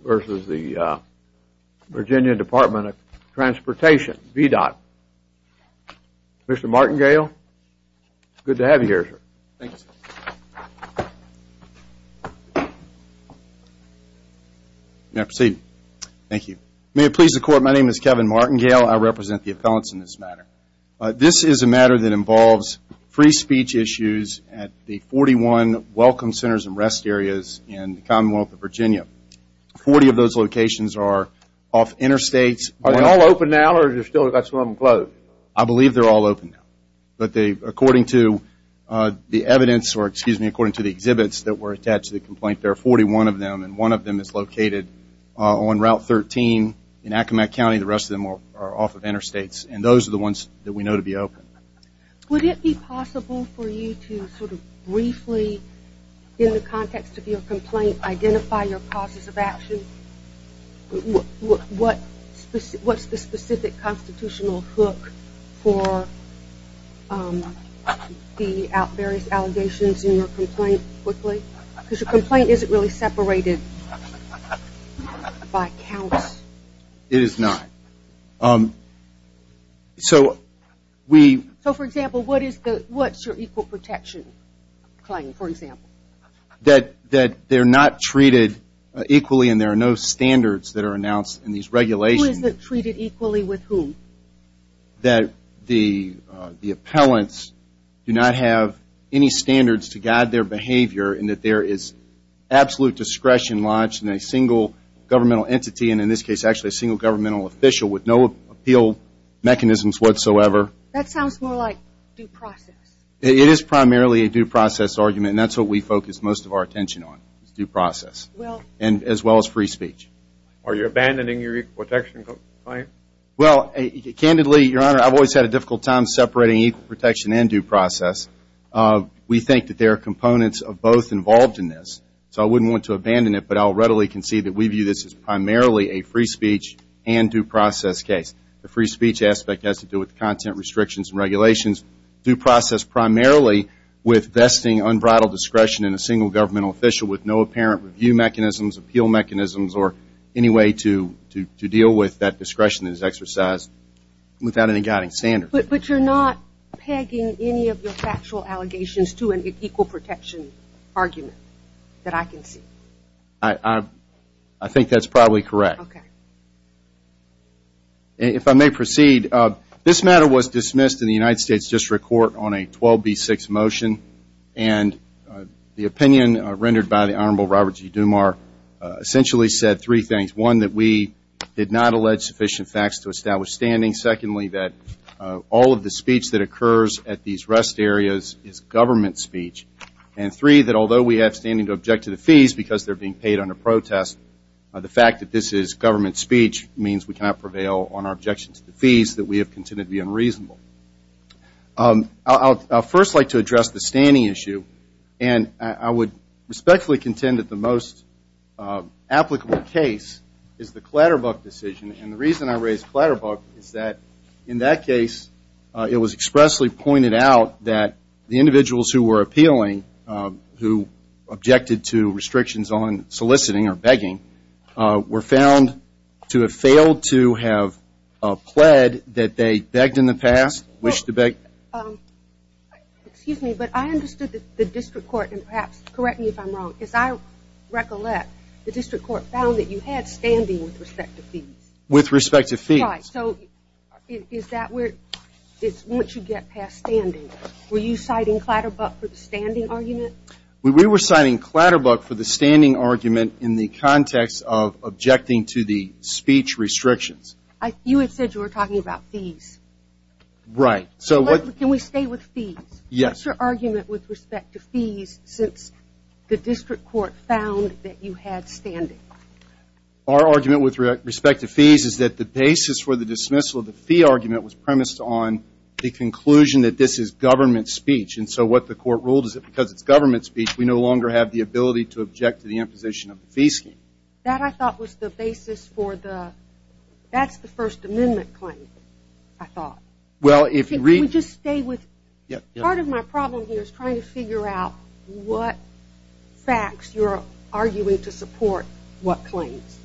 v. Virginia Department of Transportation, VDOT. Mr. Martingale, it's good to have you here, sir. Thank you, sir. May I proceed? Thank you. May it please the Court, my name is Kevin Martingale. I represent the appellants in this matter. This is a matter that involves free speech issues at the 41 Welcome Centers and Rest Areas in the Commonwealth of Virginia. Forty of those locations are off interstates. Are they all open now, or do you still have some of them closed? I believe they're all open now. But according to the exhibits that were attached to the complaint, there are 41 of them. And one of them is located on Route 13 in Acomack County. The rest of them are off of interstates. And those are the ones that we know to be open. Would it be possible for you to sort of briefly, in the context of your complaint, identify your causes of action? What's the specific constitutional hook for the various allegations in your complaint? Because your complaint isn't really separated by counts. It is not. So we... So, for example, what's your equal protection claim, for example? That they're not treated equally and there are no standards that are announced in these regulations. Who is treated equally with whom? That the appellants do not have any standards to guide their behavior and that there is absolute discretion lodged in a single governmental entity. And in this case, actually a single governmental official with no appeal mechanisms whatsoever. That sounds more like due process. It is primarily a due process argument. And that's what we focus most of our attention on, is due process. Well... And as well as free speech. Are you abandoning your equal protection claim? Well, candidly, Your Honor, I've always had a difficult time separating equal protection and due process. We think that there are components of both involved in this. So I wouldn't want to abandon it, but I'll readily concede that we view this as primarily a free speech and due process case. The free speech aspect has to do with content restrictions and regulations. Due process primarily with vesting unbridled discretion in a single governmental official with no apparent review mechanisms, appeal mechanisms, or any way to deal with that discretion that is exercised without any guiding standards. But you're not pegging any of your factual allegations to an equal protection argument that I can see? I think that's probably correct. Okay. If I may proceed, this matter was dismissed in the United States District Court on a 12B6 motion. And the opinion rendered by the Honorable Robert G. Dumar essentially said three things. One, that we did not allege sufficient facts to establish standing. Secondly, that all of the speech that occurs at these rest areas is government speech. And three, that although we have standing to object to the fees because they're being paid under protest, the fact that this is government speech means we cannot prevail on our objection to the fees that we have considered to be unreasonable. I'll first like to address the standing issue. And I would respectfully contend that the most applicable case is the Clatterbuck decision. And the reason I raise Clatterbuck is that in that case, it was expressly pointed out that the individuals who were appealing, who objected to restrictions on soliciting or begging, were found to have failed to have pled that they begged in the past, wished to beg. Excuse me, but I understood that the District Court, and perhaps correct me if I'm wrong, but as I recollect, the District Court found that you had standing with respect to fees. With respect to fees. Right, so is that where, once you get past standing, were you citing Clatterbuck for the standing argument? We were citing Clatterbuck for the standing argument in the context of objecting to the speech restrictions. You had said you were talking about fees. Right. So can we stay with fees? Yes. What's your argument with respect to fees since the District Court found that you had standing? Our argument with respect to fees is that the basis for the dismissal of the fee argument was premised on the conclusion that this is government speech. And so what the Court ruled is that because it's government speech, we no longer have the ability to object to the imposition of the fee scheme. That I thought was the basis for the, that's the First Amendment claim, I thought. Well, if you read. Can we just stay with, part of my problem here is trying to figure out what facts you're arguing to support what claims.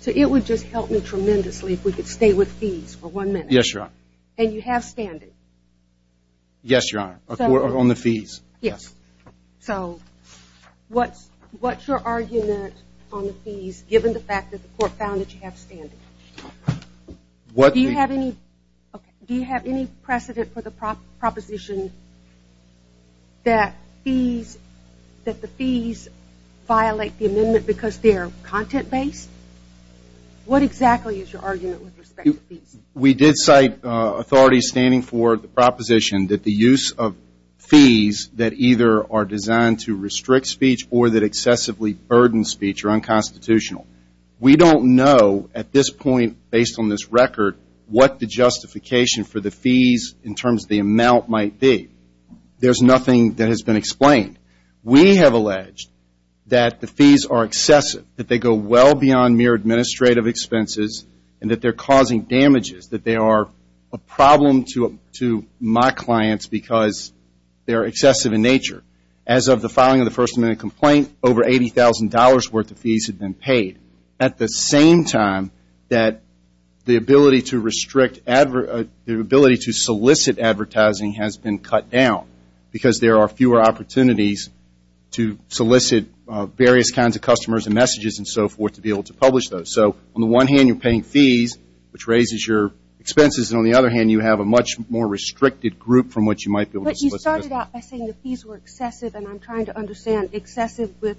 So it would just help me tremendously if we could stay with fees for one minute. Yes, Your Honor. And you have standing? Yes, Your Honor, on the fees. Yes. So what's your argument on the fees given the fact that the Court found that you have standing? Do you have any, do you have any precedent for the proposition that fees, that the fees violate the amendment because they are content-based? What exactly is your argument with respect to fees? We did cite authorities standing for the proposition that the use of fees that either are designed to restrict speech or that excessively burden speech are unconstitutional. We don't know at this point, based on this record, what the justification for the fees in terms of the amount might be. There's nothing that has been explained. We have alleged that the fees are excessive, that they go well beyond mere administrative expenses and that they're causing damages, that they are a problem to my clients because they're excessive in nature. As of the filing of the First Amendment complaint, over $80,000 worth of fees had been paid. At the same time that the ability to restrict, the ability to solicit advertising has been cut down because there are fewer opportunities to solicit various kinds of customers and messages and so forth to be able to publish those. So on the one hand, you're paying fees, which raises your expenses, and on the other hand, you have a much more restricted group from which you might be able to solicit. But you started out by saying the fees were excessive, and I'm trying to understand excessive with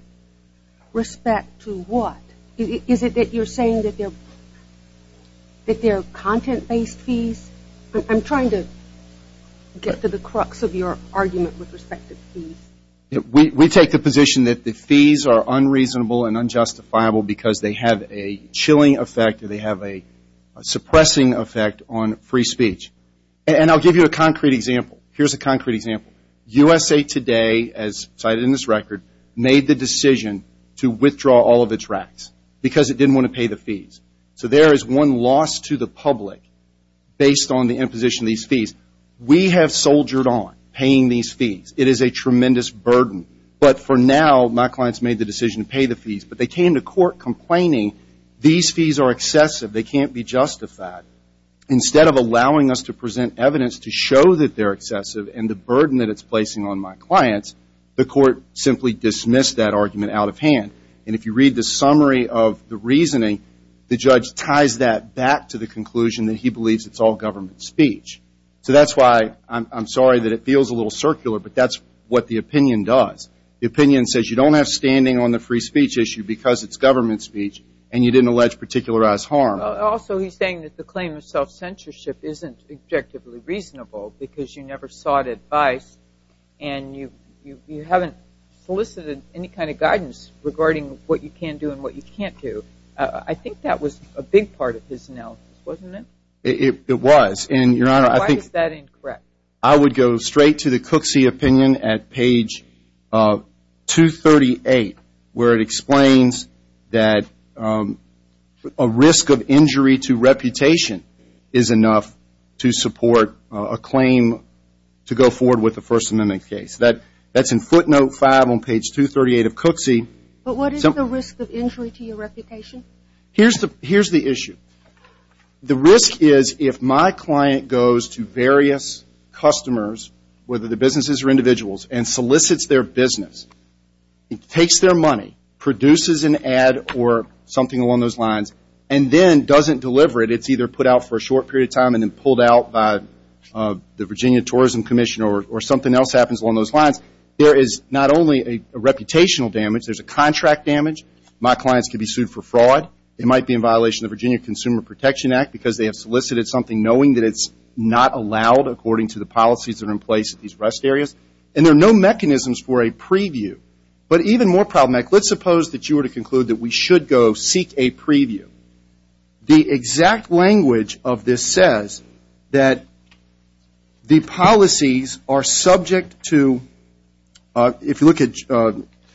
respect to what? Is it that you're saying that they're content-based fees? I'm trying to get to the crux of your argument with respect to fees. We take the position that the fees are unreasonable and unjustifiable because they have a chilling effect or they have a suppressing effect on free speech. And I'll give you a concrete example. Here's a concrete example. USA Today, as cited in this record, made the decision to withdraw all of its racks because it didn't want to pay the fees. So there is one loss to the public based on the imposition of these fees. We have soldiered on paying these fees. It is a tremendous burden. But for now, my clients made the decision to pay the fees. But they came to court complaining these fees are excessive. They can't be justified. Instead of allowing us to present evidence to show that they're excessive and the burden that it's placing on my clients, the court simply dismissed that argument out of hand. And if you read the summary of the reasoning, the judge ties that back to the conclusion that he believes it's all government speech. So that's why I'm sorry that it feels a little circular, but that's what the opinion does. The opinion says you don't have standing on the free speech issue because it's government speech and you didn't allege particularized harm. Also, he's saying that the claim of self-censorship isn't objectively reasonable because you never sought advice and you haven't solicited any kind of guidance regarding what you can do and what you can't do. I think that was a big part of his analysis, wasn't it? It was. Why is that incorrect? I would go straight to the Cooksey opinion at page 238 where it explains that a risk of injury to reputation is enough to support a claim to go forward with a First Amendment case. That's in footnote 5 on page 238 of Cooksey. But what is the risk of injury to your reputation? Here's the issue. The risk is if my client goes to various customers, whether they're businesses or individuals, and solicits their business, takes their money, produces an ad or something along those lines, and then doesn't deliver it, it's either put out for a short period of time and then pulled out by the Virginia Tourism Commission or something else happens along those lines. There is not only a reputational damage, there's a contract damage. My clients could be sued for fraud. It might be in violation of the Virginia Consumer Protection Act because they have solicited something knowing that it's not allowed according to the policies that are in place at these rest areas. And there are no mechanisms for a preview. But even more problematic, let's suppose that you were to conclude that we should go seek a preview. The exact language of this says that the policies are subject to, if you look at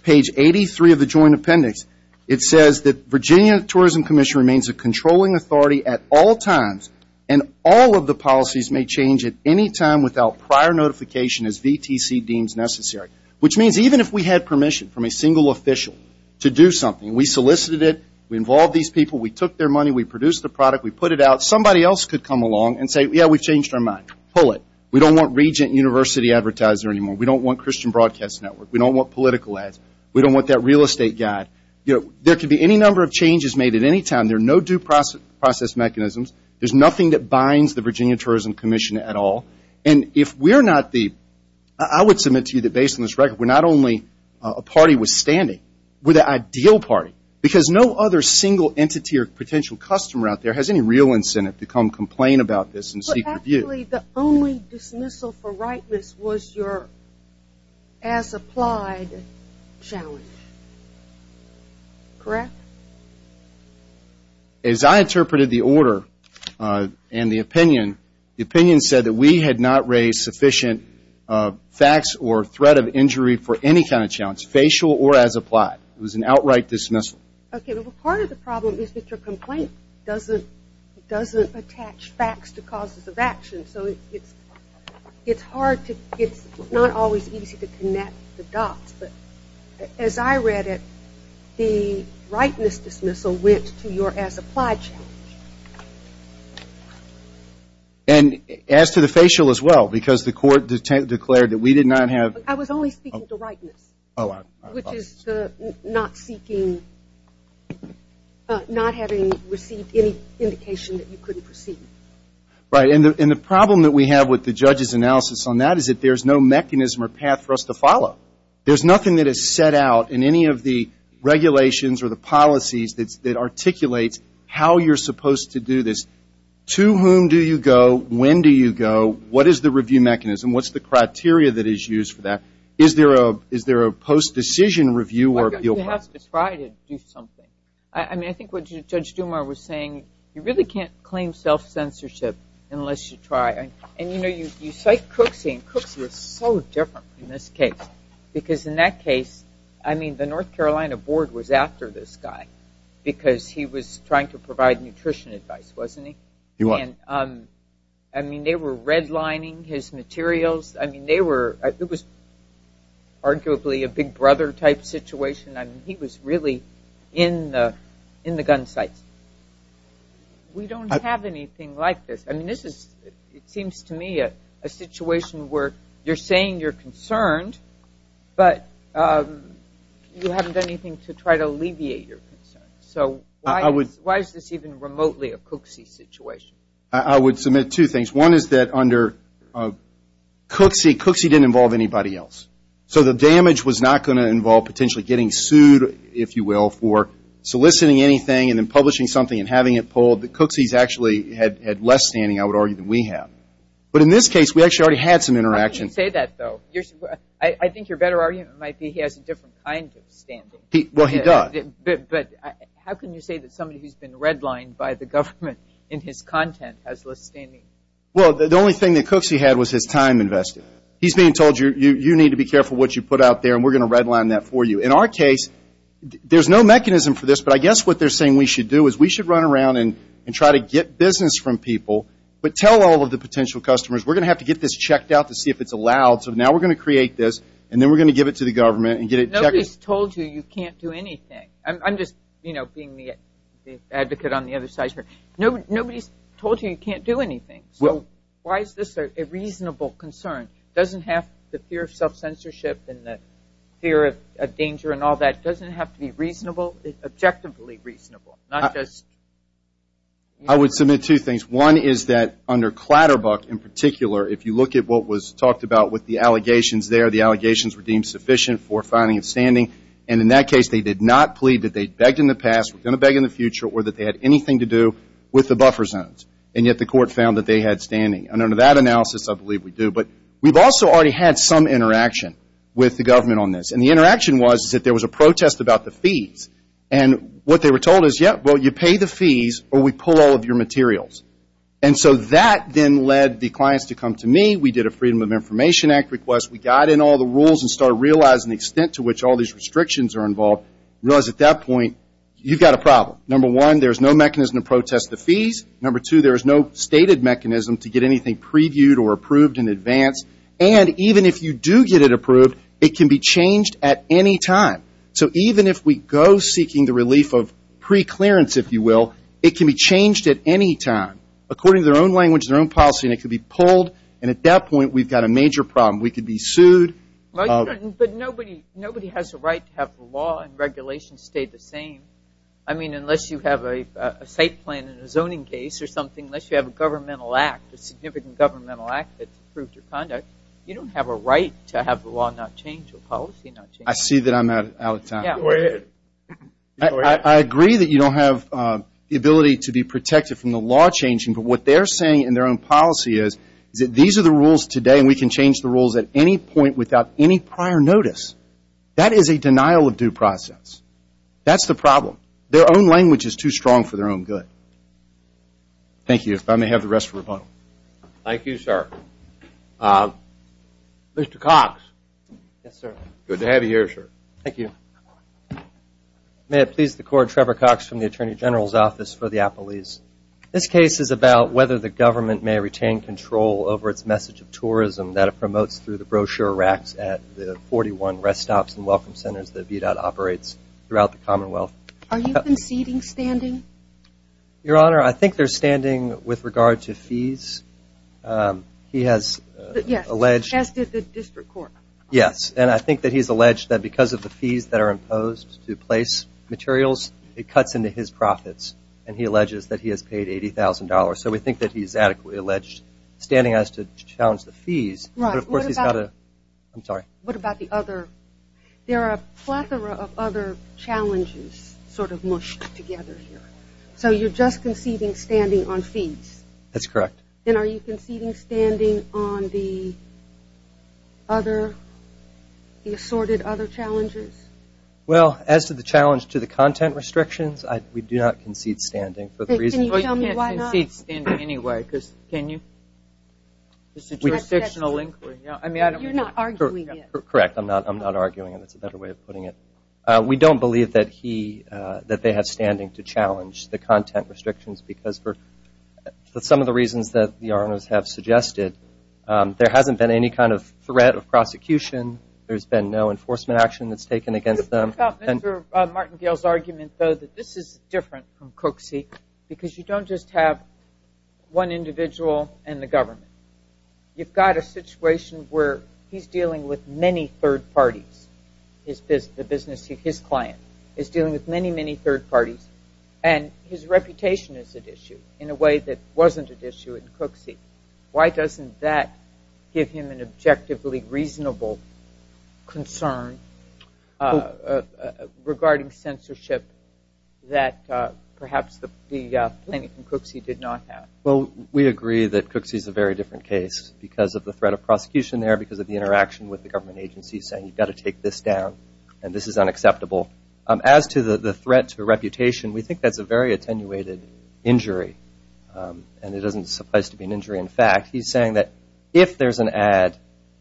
page 83 of the joint appendix, it says that Virginia Tourism Commission remains a controlling authority at all times and all of the policies may change at any time without prior notification as VTC deems necessary. Which means even if we had permission from a single official to do something, we solicited it, we involved these people, we took their money, we produced the product, we put it out, somebody else could come along and say, yeah, we've changed our mind, pull it. We don't want Regent University Advertiser anymore. We don't want Christian Broadcast Network. We don't want political ads. We don't want that real estate guy. There could be any number of changes made at any time. There are no due process mechanisms. There's nothing that binds the Virginia Tourism Commission at all. And if we're not the, I would submit to you that based on this record, we're not only a party withstanding, we're the ideal party. Because no other single entity or potential customer out there has any real incentive to come complain about this and seek review. The only dismissal for rightness was your as-applied challenge. Correct? As I interpreted the order and the opinion, the opinion said that we had not raised sufficient facts or threat of injury for any kind of challenge, facial or as-applied. It was an outright dismissal. Part of the problem is that your complaint doesn't attach facts to causes of action, so it's hard to, it's not always easy to connect the dots. But as I read it, the rightness dismissal went to your as-applied challenge. And as to the facial as well? Because the court declared that we did not have I was only speaking to rightness. Which is the not seeking not having received any indication that you couldn't proceed. And the problem that we have with the judge's analysis on that is that there's no mechanism or path for us to follow. There's nothing that is set out in any of the regulations or the policies that articulates how you're supposed to do this. To whom do you go? When do you go? What is the review mechanism? What's the criteria that is used for that? Is there a post-decision review? You have to try to do something. I think what Judge Dumas was saying, you really can't claim self-censorship unless you try. You cite Cooksey, and Cooksey was so different in this case. Because in that case, the North Carolina board was after this guy. Because he was trying to provide nutrition advice, wasn't he? They were redlining his arguably a big brother type situation. He was really in the gun sights. We don't have anything like this. It seems to me a situation where you're saying you're concerned but you haven't done anything to try to alleviate your concerns. Why is this even remotely a Cooksey situation? I would submit two things. One is that under So the damage was not going to involve potentially getting sued if you will, for soliciting anything and then publishing something and having it pulled. Cooksey actually had less standing I would argue than we have. But in this case, we actually already had some interaction. I think your better argument might be he has a different kind of standing. Well, he does. But how can you say that somebody who's been redlined by the government in his content has less standing? Well, the only thing that Cooksey had was his time invested. He's being told you need to be careful what you put out there and we're going to redline that for you. In our case, there's no mechanism for this but I guess what they're saying we should do is we should run around and try to get business from people but tell all of the potential customers we're going to have to get this checked out to see if it's allowed so now we're going to create this and then we're going to give it to the government and get it checked. Nobody's told you you can't do anything. I'm just being the advocate on the other side here. Nobody's told you you can't do anything. So why is this a reasonable concern? The fear of self-censorship and the fear of danger and all that doesn't have to be reasonably, objectively reasonable. I would submit two things. One is that under Clatterbuck in particular if you look at what was talked about with the allegations there the allegations were deemed sufficient for finding and standing and in that case they did not plead that they begged in the past were going to beg in the future or that they had anything to do with the buffer zones and yet the court found that they had standing. Under that analysis, I believe we do but we've also already had some interaction with the government on this and the interaction was that there was a protest about the fees and what they were told is, yeah, well, you pay the fees or we pull all of your materials. And so that then led the clients to come to me. We did a Freedom of Information Act request. We got in all the rules and started realizing the extent to which all these restrictions are involved. Realized at that point, you've got a problem. Number one, there's no mechanism to protest the fees. Number two, there's no stated mechanism to get anything previewed or approved in advance. And even if you do get it approved, it can be changed at any time. So even if we go seeking the relief of preclearance, if you will it can be changed at any time. According to their own language, their own policy and it can be pulled and at that point, we've got a major problem. We could be sued. But nobody has a right to have the law and regulations stay the same. I mean, unless you have a site plan and a zoning case or something unless you have a governmental act, a significant governmental act that's approved your conduct, you don't have a right to have the law not change or policy not change. I see that I'm out of time. I agree that you don't have the ability to be protected from the law changing, but what they're saying in their own policy is that these are the rules today and we can change the rules at any point without any prior notice. That is a denial of due process. That's the problem. Their own language is too strong for their own good. Thank you. If I may have the rest for rebuttal. Thank you, sir. Mr. Cox. Yes, sir. Good to have you here, sir. Thank you. May it please the Court, Trevor Cox from the Attorney General's Office for the Appellees. This case is about whether the government may retain control over its message of tourism that it promotes through the brochure racks at the 41 rest stops and welcome centers that VDOT operates throughout the Commonwealth. Are you conceding standing? Your Honor, I think they're standing with regard to fees. He has alleged. Yes, as did the District Court. Yes, and I think that he's alleged that because of the fees that are imposed to place materials, it cuts into his profits, and he alleges that he has paid $80,000. So we think that he's adequately alleged standing as to challenge the fees. Right. I'm sorry. What about the other? There are a plethora of other challenges sort of mushed together here. So you're just conceding standing on fees? That's correct. And are you conceding standing on the other, the assorted other challenges? Well, as to the challenge to the content restrictions, we do not concede standing for the reasons. Can you tell me why not? Well, you can't concede standing anyway. Can you? It's a jurisdictional inquiry. You're not arguing it. Correct. I'm not arguing it. That's a better way of putting it. We don't believe that they have standing to challenge the content restrictions because for some of the reasons that the RNOs have suggested, there hasn't been any kind of threat of prosecution. There's been no enforcement action that's taken against them. What about Mr. Martingale's argument, though, that this is different from Cooksey because you don't just have one individual and the government. You've got a situation where he's dealing with many third parties, his business, his client is dealing with many, many third parties, and his reputation is at issue in a way that wasn't at issue in Cooksey. Why doesn't that give him an objectively reasonable concern regarding censorship that perhaps the plaintiff in Cooksey did not have? Well, we agree that Cooksey is a very different case because of the threat of prosecution there, because of the interaction with the government agency saying, you've got to take this down and this is unacceptable. As to the threat to reputation, we think that's a very attenuated injury, and it doesn't suffice to be an injury in fact. He's saying that if there's an ad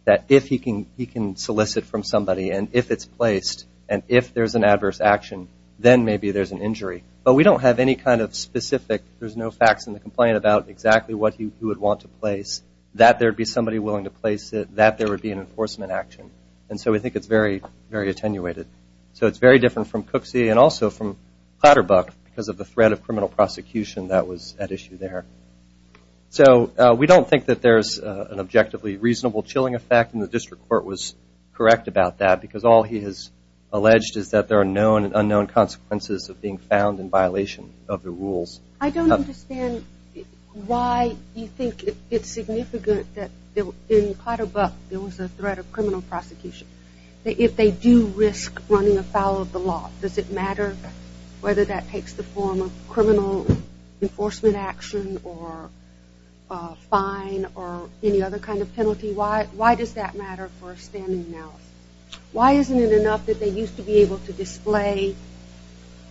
that if he can solicit from somebody and if it's placed and if there's an adverse action, then maybe there's an injury. But we don't have any kind of specific, there's no facts in the complaint about exactly what he would want to place, that there would be somebody willing to place it, that there would be an enforcement action. And so we think it's very, very attenuated. So it's very different from Cooksey and also from Potterbrook because of the threat of criminal prosecution that was at issue there. So we don't think that there's an objectively reasonable chilling effect, and the district court was correct about that, because all he has alleged is that there are known and unknown consequences of being found in violation of the rules. I don't understand why you think it's significant that in Potterbrook there was a threat of criminal prosecution, that if they do risk running afoul of the law, does it matter whether that takes the form of criminal enforcement action or a fine or any other kind of penalty? Why does that matter for a standing analysis? Why isn't it enough that they used to be able to display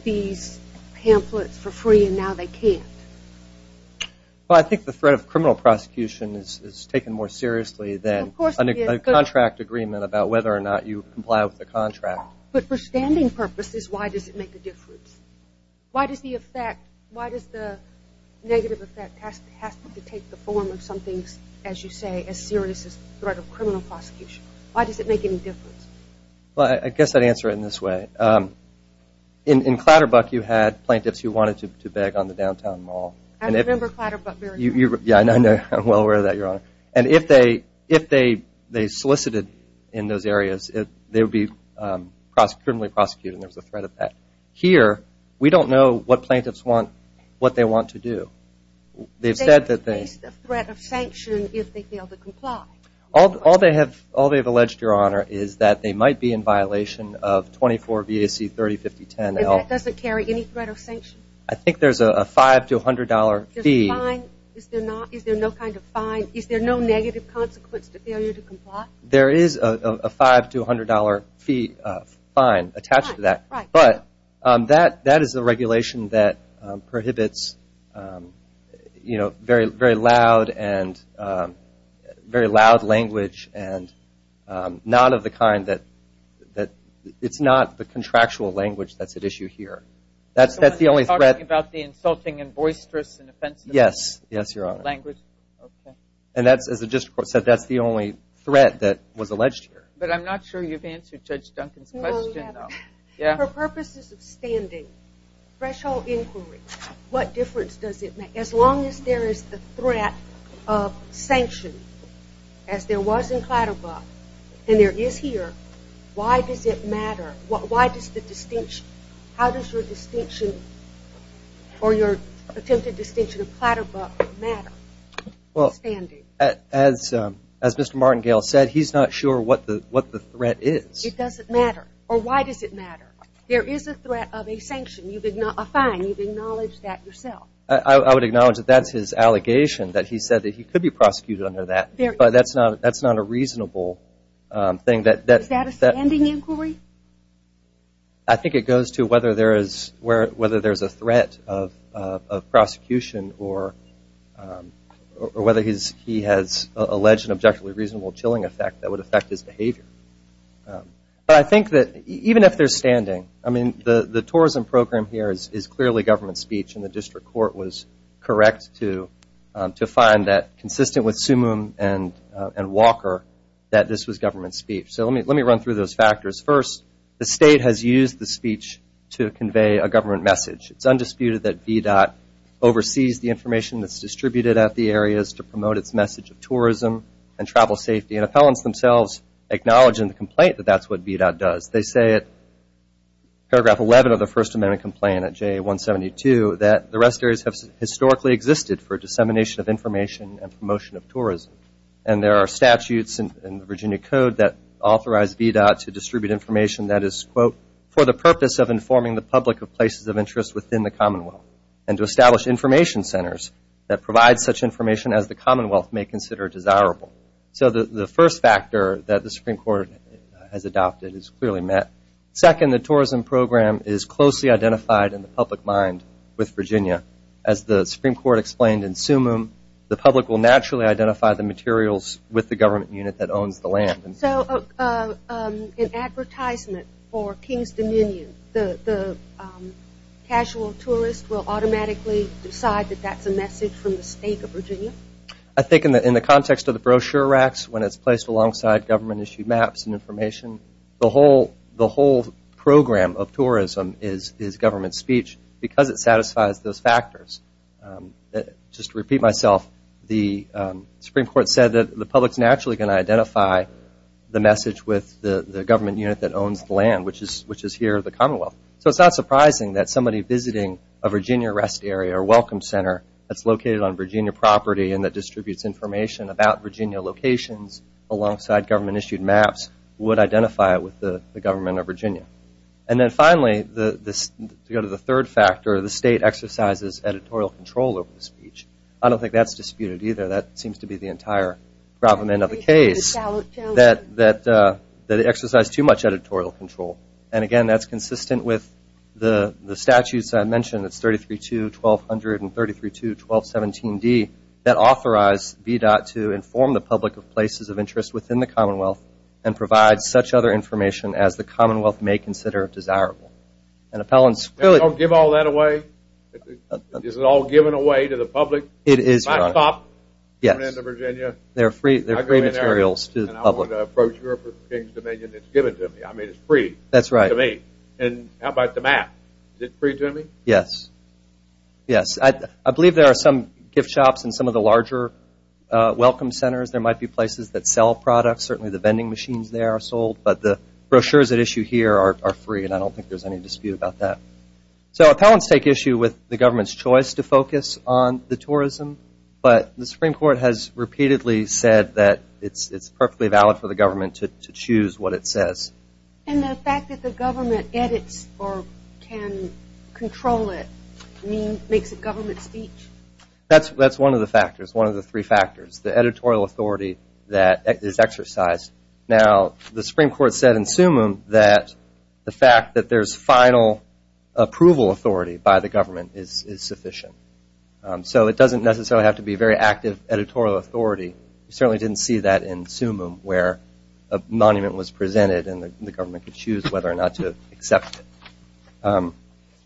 these pamphlets for free and now they can't? Well, I think the threat of criminal prosecution is taken more seriously than a contract agreement about whether or not you comply with the contract. But for standing purposes, why does it make a difference? Why does the negative effect have to take the form of something, as you say, as serious as threat of criminal prosecution? Why does it make any difference? I guess I'd answer it in this way. In Clatterbuck you had plaintiffs who wanted to beg on the downtown mall. I remember Clatterbuck very well. Yeah, I'm well aware of that, Your Honor. And if they solicited in those areas, they would be criminally prosecuted and there was a threat of that. Here, we don't know what plaintiffs want, what they want to do. They've said that they – Is there at least a threat of sanction if they fail to comply? All they have alleged, Your Honor, is that they might be in violation of 24 BAC 305010L. And that doesn't carry any threat of sanction? I think there's a $500 to $100 fee. Is there no kind of fine? Is there no negative consequence to failure to comply? There is a $500 to $100 fee fine attached to that. But that is a regulation that prohibits very loud language and not of the kind that – it's not the contractual language that's at issue here. That's the only threat. Are you talking about the insulting and boisterous and offensive language? Yes, Your Honor. Okay. And that's, as the district court said, that's the only threat that was alleged here. But I'm not sure you've answered Judge Duncan's question, though. No, I haven't. Yeah? For purposes of standing, threshold inquiry, what difference does it make? As long as there is the threat of sanction, as there was in Clatterbuck and there is here, why does it matter? Why does the distinction – how does your distinction or your attempted distinction of Clatterbuck matter? Well, as Mr. Martingale said, he's not sure what the threat is. It doesn't matter. Or why does it matter? There is a threat of a sanction, a fine. You've acknowledged that yourself. I would acknowledge that that's his allegation, that he said that he could be prosecuted under that. But that's not a reasonable thing. Is that a standing inquiry? I think it goes to whether there is a threat of prosecution or whether he has alleged an objectively reasonable chilling effect that would affect his behavior. But I think that even if there's standing, I mean, the tourism program here is clearly government speech, and the district court was correct to find that, consistent with Sumum and Walker, that this was government speech. So let me run through those factors. First, the state has used the speech to convey a government message. It's undisputed that VDOT oversees the information that's distributed at the areas to promote its message of tourism and travel safety. And appellants themselves acknowledge in the complaint that that's what VDOT does. They say at paragraph 11 of the First Amendment complaint at JA 172 that the rest areas have historically existed for dissemination of information and promotion of tourism. And there are statutes in the Virginia Code that authorize VDOT to distribute information that is, quote, for the purpose of informing the public of places of interest within the commonwealth and to establish information centers that provide such information as the commonwealth may consider desirable. So the first factor that the Supreme Court has adopted is clearly met. Second, the tourism program is closely identified in the public mind with Virginia. As the Supreme Court explained in Summum, the public will naturally identify the materials with the government unit that owns the land. So an advertisement for King's Dominion, the casual tourist will automatically decide that that's a message from the state of Virginia? I think in the context of the brochure racks, when it's placed alongside government-issued maps and information, the whole program of tourism is government speech because it satisfies those factors. Just to repeat myself, the Supreme Court said that the public's naturally going to identify the message with the government unit that owns the land, which is here, the commonwealth. So it's not surprising that somebody visiting a Virginia rest area or welcome center that's located on Virginia property and that distributes information about Virginia locations alongside government-issued maps would identify it with the government of Virginia. And then finally, to go to the third factor, the state exercises editorial control over the speech. I don't think that's disputed either. That seems to be the entire problem end of the case, that they exercise too much editorial control. And again, that's consistent with the statutes I mentioned. It's 33.2, 1200, and 33.2, 1217d, that authorize VDOT to inform the public of places of interest within the commonwealth and provide such other information as the commonwealth may consider desirable. Don't give all that away? Is it all given away to the public? It is, Your Honor. They're free materials to the public. And I want to approach the King's Dominion. It's given to me. I mean, it's free to me. That's right. And how about the map? Is it free to me? Yes. Yes. I believe there are some gift shops in some of the larger welcome centers. There might be places that sell products. Certainly the vending machines there are sold, but the brochures at issue here are free, and I don't think there's any dispute about that. So appellants take issue with the government's choice to focus on the tourism, but the Supreme Court has repeatedly said that it's perfectly valid for the government to choose what it says. And the fact that the government edits or can control it makes it government speech? That's one of the factors, one of the three factors. The editorial authority that is exercised. Now, the Supreme Court said in Sumum that the fact that there's final approval authority by the government is sufficient. So it doesn't necessarily have to be very active editorial authority. You certainly didn't see that in Sumum where a monument was presented and the government could choose whether or not to accept it.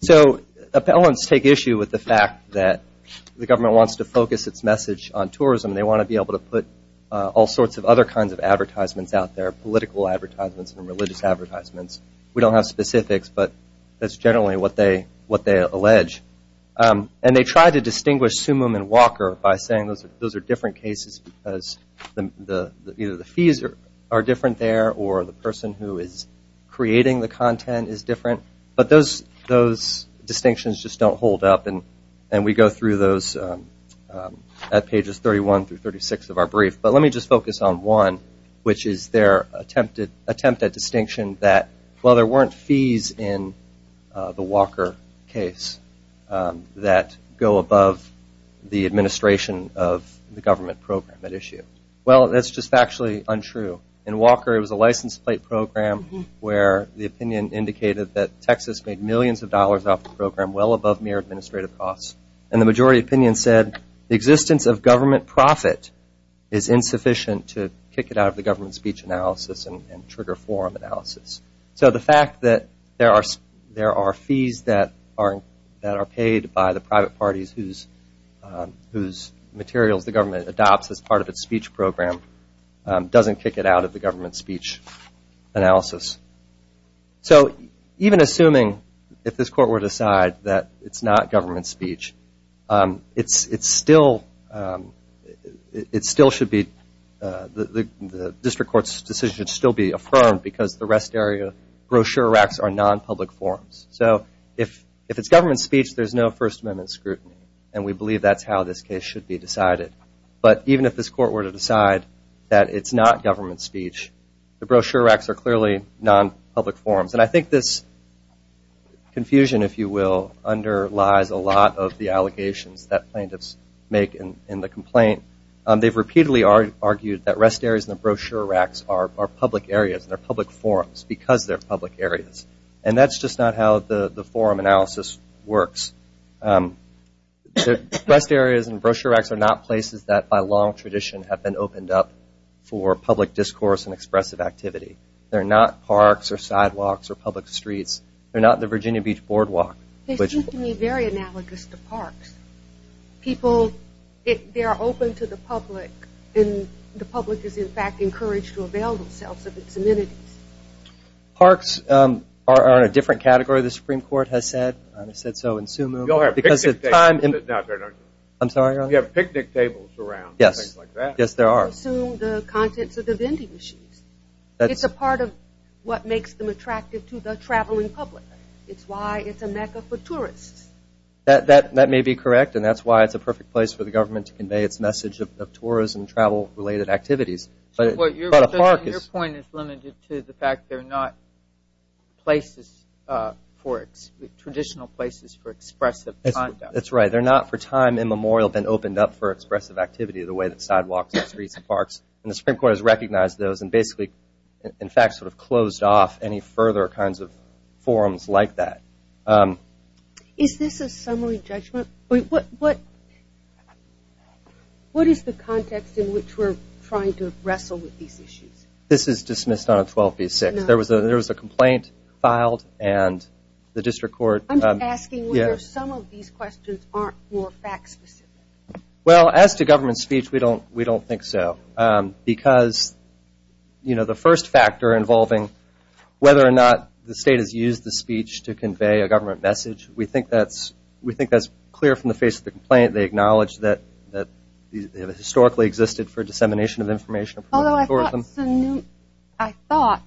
So appellants take issue with the fact that the government wants to focus its message on tourism. They want to be able to put all sorts of other kinds of advertisements out there, political advertisements and religious advertisements. We don't have specifics, but that's generally what they allege. And they try to distinguish Sumum and Walker by saying those are different cases because either the fees are different there or the person who is creating the content is different. But those distinctions just don't hold up. And we go through those at pages 31 through 36 of our brief. But let me just focus on one, which is their attempt at distinction that, well, there weren't fees in the Walker case that go above the administration of the government program at issue. Well, that's just factually untrue. In Walker it was a license plate program where the opinion indicated that Texas made millions of dollars off the program well above mere administrative costs. And the majority opinion said the existence of government profit is insufficient to kick it out of the government speech analysis and trigger forum analysis. So the fact that there are fees that are paid by the private parties whose materials the government adopts as part of its speech program doesn't kick it out of the government speech analysis. So even assuming, if this court were to decide that it's not government speech, it still should be the district court's decision should still be affirmed because the rest area brochure racks are non-public forums. So if it's government speech, there's no First Amendment scrutiny. And we believe that's how this case should be decided. But even if this court were to decide that it's not government speech, the brochure racks are clearly non-public forums. And I think this confusion, if you will, underlies a lot of the allegations that plaintiffs make in the complaint. They've repeatedly argued that rest areas and the brochure racks are public areas, they're public forums because they're public areas. And that's just not how the forum analysis works. The rest areas and brochure racks are not places that, by long tradition, have been opened up for public discourse and expressive activity. They're not parks or sidewalks or public streets. They're not the Virginia Beach Boardwalk. They seem to me very analogous to parks. People, they are open to the public, and the public is, in fact, encouraged to avail themselves of its amenities. Parks are in a different category, the Supreme Court has said. You all have picnic tables. I'm sorry, Ron? You have picnic tables around and things like that. Yes, there are. Assume the contents of the vending machines. It's a part of what makes them attractive to the traveling public. It's why it's a mecca for tourists. That may be correct, and that's why it's a perfect place for the government to convey its message of tourism, travel-related activities. Your point is limited to the fact they're not places for, traditional places for expressive conduct. That's right. They're not for time immemorial been opened up for expressive activity the way that sidewalks and streets and parks, and the Supreme Court has recognized those and basically, in fact, sort of closed off any further kinds of forums like that. Is this a summary judgment? What is the context in which we're trying to wrestle with these issues? This is dismissed on a 12B6. There was a complaint filed, and the district court- I'm just asking whether some of these questions aren't more fact-specific. Well, as to government speech, we don't think so, because the first factor involving whether or not the state has used the speech to convey a government message, we think that's clear from the face of the complaint. They acknowledge that it historically existed for dissemination of information. Although I thought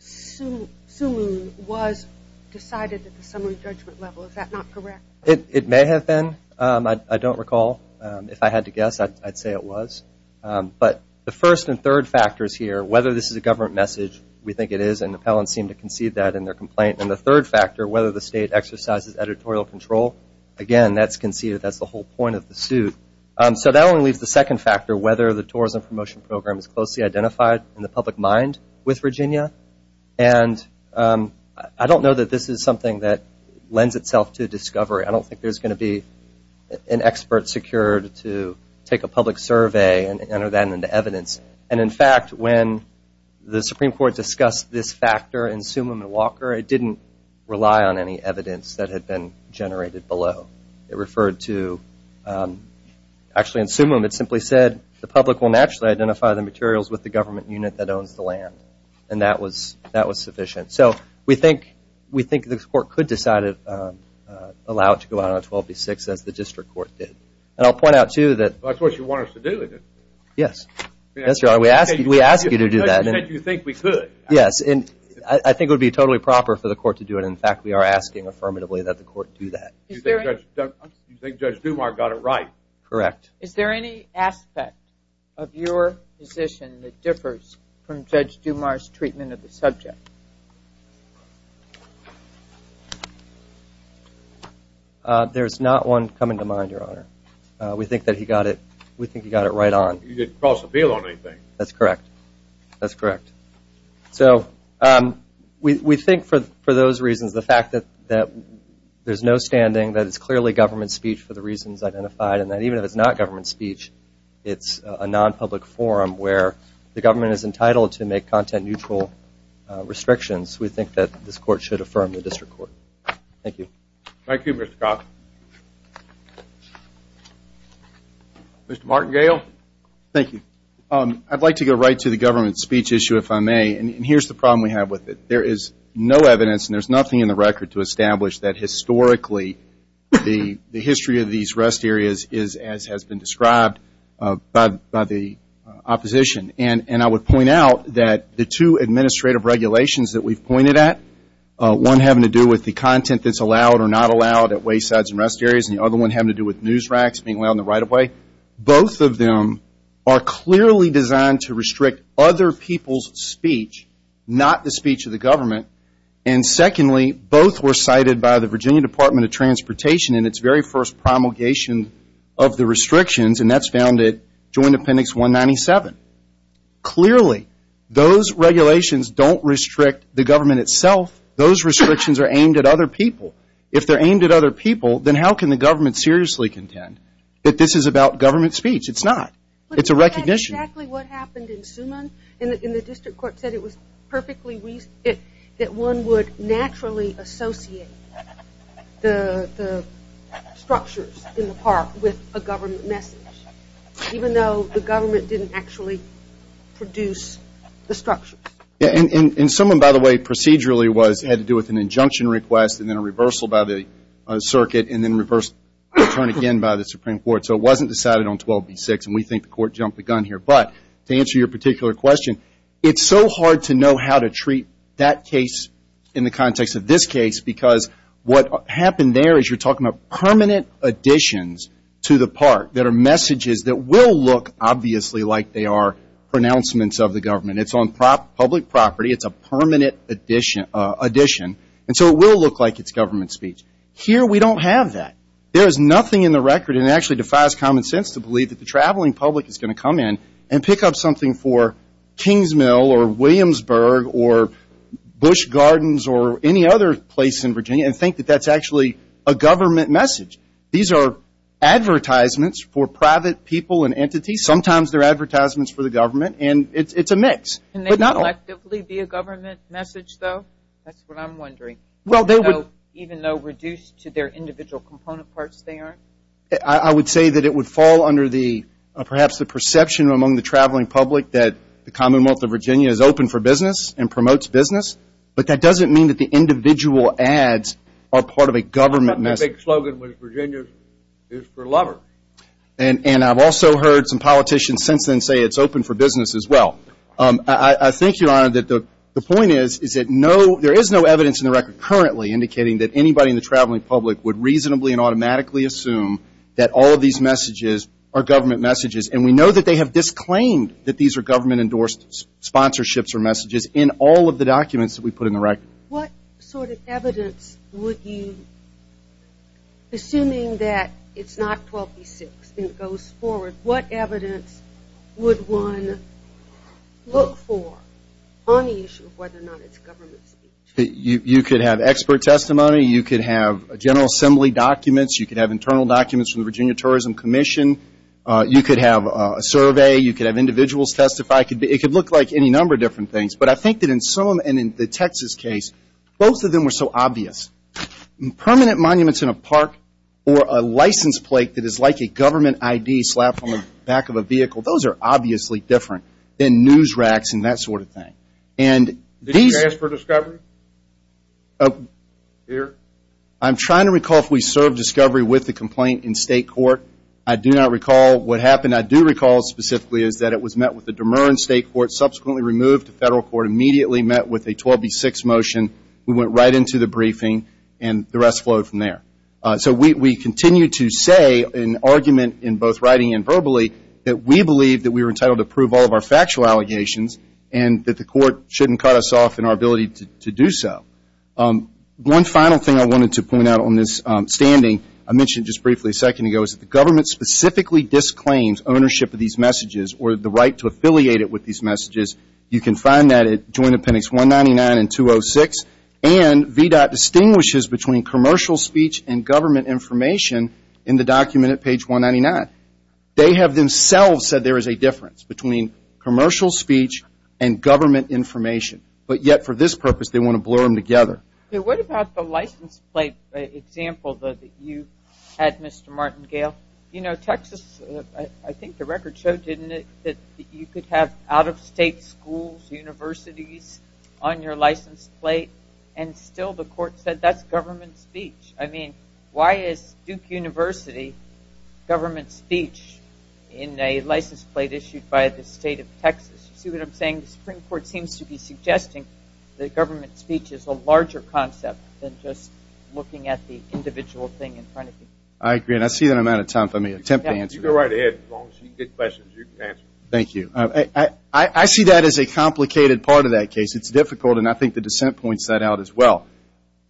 Sunun was decided at the summary judgment level. Is that not correct? It may have been. I don't recall. If I had to guess, I'd say it was. But the first and third factors here, whether this is a government message, we think it is, and appellants seem to concede that in their complaint. And the third factor, whether the state exercises editorial control, again, that's conceded. That's the whole point of the suit. So that only leaves the second factor, whether the tourism promotion program is closely identified in the public mind with Virginia. And I don't know that this is something that lends itself to discovery. I don't think there's going to be an expert secured to take a public survey and enter that into evidence. And, in fact, when the Supreme Court discussed this factor in Sumim and Walker, it didn't rely on any evidence that had been generated below. It referred to actually in Sumim, it simply said, the public will naturally identify the materials with the government unit that owns the land. And that was sufficient. So we think the court could decide to allow it to go out on 12B-6, as the district court did. And I'll point out, too, that That's what you want us to do, isn't it? Yes. Yes, Your Honor. We ask you to do that. The judge said you think we could. Yes. And I think it would be totally proper for the court to do it. In fact, we are asking affirmatively that the court do that. You think Judge Dumas got it right? Correct. Is there any aspect of your position that differs from Judge Dumas' treatment of the subject? There's not one coming to mind, Your Honor. We think that he got it right on. He didn't cross appeal on anything. That's correct. That's correct. So we think for those reasons, the fact that there's no standing, that it's clearly government speech for the reasons identified, and that even if it's not government speech, it's a non-public forum where the government is entitled to make content-neutral restrictions, we think that this court should affirm the district court. Thank you. Thank you, Mr. Cox. Mr. Martingale? Thank you. I'd like to go right to the government speech issue, if I may. And here's the problem we have with it. There is no evidence, and there's nothing in the record, to establish that historically the history of these rest areas is as has been described by the opposition. And I would point out that the two administrative regulations that we've pointed at, one having to do with the content that's allowed or not allowed at waysides and rest areas, and the other one having to do with news racks being allowed in the right of way, both of them are clearly designed to restrict other people's speech, not the speech of the government. And secondly, both were cited by the Virginia Department of Transportation in its very first promulgation of the restrictions, and that's found at Joint Appendix 197. Clearly, those regulations don't restrict the government itself. Those restrictions are aimed at other people. If they're aimed at other people, then how can the government seriously contend that this is about government speech? It's not. It's a recognition. But that's exactly what happened in Suman, and the district court said it was perfectly reasonable that one would naturally associate the structures in the park with a government message, even though the government didn't actually produce the structure. And Suman, by the way, procedurally had to do with an injunction request and then a reversal by the circuit and then a return again by the Supreme Court. So it wasn't decided on 12B6, and we think the court jumped the gun here. But to answer your particular question, it's so hard to know how to treat that case in the context of this case because what happened there is you're talking about permanent additions to the park that are messages that will look obviously like they are pronouncements of the government. It's on public property. It's a permanent addition. And so it will look like it's government speech. Here we don't have that. There is nothing in the record that actually defies common sense to believe that the traveling public is going to come in and pick up something for Kings Mill or Williamsburg or Busch Gardens or any other place in Virginia and think that that's actually a government message. These are advertisements for private people and entities. Sometimes they're advertisements for the government, and it's a mix. Can they collectively be a government message, though? That's what I'm wondering, even though reduced to their individual component parts they are. I would say that it would fall under perhaps the perception among the traveling public that the Commonwealth of Virginia is open for business and promotes business, but that doesn't mean that the individual ads are part of a government message. I thought the big slogan was Virginia is for lovers. And I've also heard some politicians since then say it's open for business as well. I think, Your Honor, that the point is that there is no evidence in the record currently indicating that anybody in the traveling public would reasonably and automatically assume that all of these messages are government messages, and we know that they have disclaimed that these are government-endorsed sponsorships or messages in all of the documents that we put in the record. What sort of evidence would you, assuming that it's not 12v6 and it goes forward, what evidence would one look for on the issue of whether or not it's government speech? You could have expert testimony. You could have General Assembly documents. You could have internal documents from the Virginia Tourism Commission. You could have a survey. You could have individuals testify. It could look like any number of different things. But I think that in some and in the Texas case, both of them were so obvious. Permanent monuments in a park or a license plate that is like a government ID slapped on the back of a vehicle, those are obviously different than news racks and that sort of thing. Did you ask for discovery here? I'm trying to recall if we served discovery with the complaint in state court. I do not recall what happened. What I do recall specifically is that it was met with the demer in state court, subsequently removed to federal court, immediately met with a 12v6 motion. We went right into the briefing, and the rest flowed from there. So we continue to say in argument in both writing and verbally that we believe that we were entitled to prove all of our factual allegations and that the court shouldn't cut us off in our ability to do so. One final thing I wanted to point out on this standing, I mentioned just briefly a second ago, is that the government specifically disclaims ownership of these messages or the right to affiliate it with these messages. You can find that at Joint Appendix 199 and 206, and VDOT distinguishes between commercial speech and government information in the document at page 199. They have themselves said there is a difference between commercial speech and government information, but yet for this purpose they want to blur them together. What about the license plate example that you had, Mr. Martingale? You know, Texas, I think the record showed, didn't it, that you could have out-of-state schools, universities on your license plate, and still the court said that's government speech. I mean, why is Duke University government speech in a license plate issued by the state of Texas? You see what I'm saying? The Supreme Court seems to be suggesting that government speech is a larger concept than just looking at the individual thing in front of you. I agree, and I see that I'm out of time. If I may attempt to answer that. You can go right ahead. As long as you get questions, you can answer them. Thank you. I see that as a complicated part of that case. It's difficult, and I think the dissent points that out as well.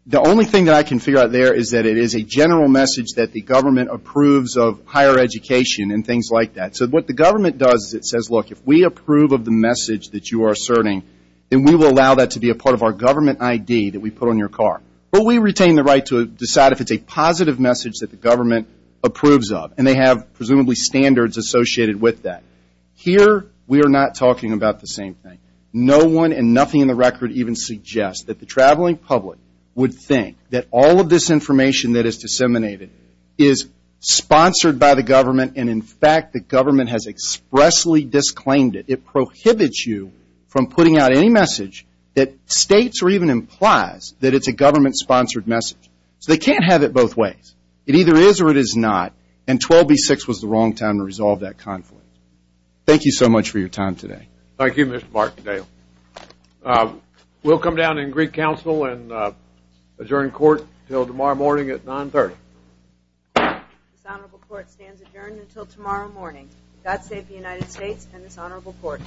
The only thing that I can figure out there is that it is a general message that the government approves of higher education and things like that. So what the government does is it says, look, if we approve of the message that you are asserting, then we will allow that to be a part of our government ID that we put on your car. But we retain the right to decide if it's a positive message that the government approves of, and they have presumably standards associated with that. Here we are not talking about the same thing. No one and nothing in the record even suggests that the traveling public would think that all of this information that is disseminated is sponsored by the government, and, in fact, the government has expressly disclaimed it. It prohibits you from putting out any message that states or even implies that it's a government-sponsored message. So they can't have it both ways. It either is or it is not, and 12b-6 was the wrong time to resolve that conflict. Thank you so much for your time today. Thank you, Mr. Martindale. We'll come down in Greek Council and adjourn court until tomorrow morning at 930. This honorable court stands adjourned until tomorrow morning. God save the United States and this honorable court.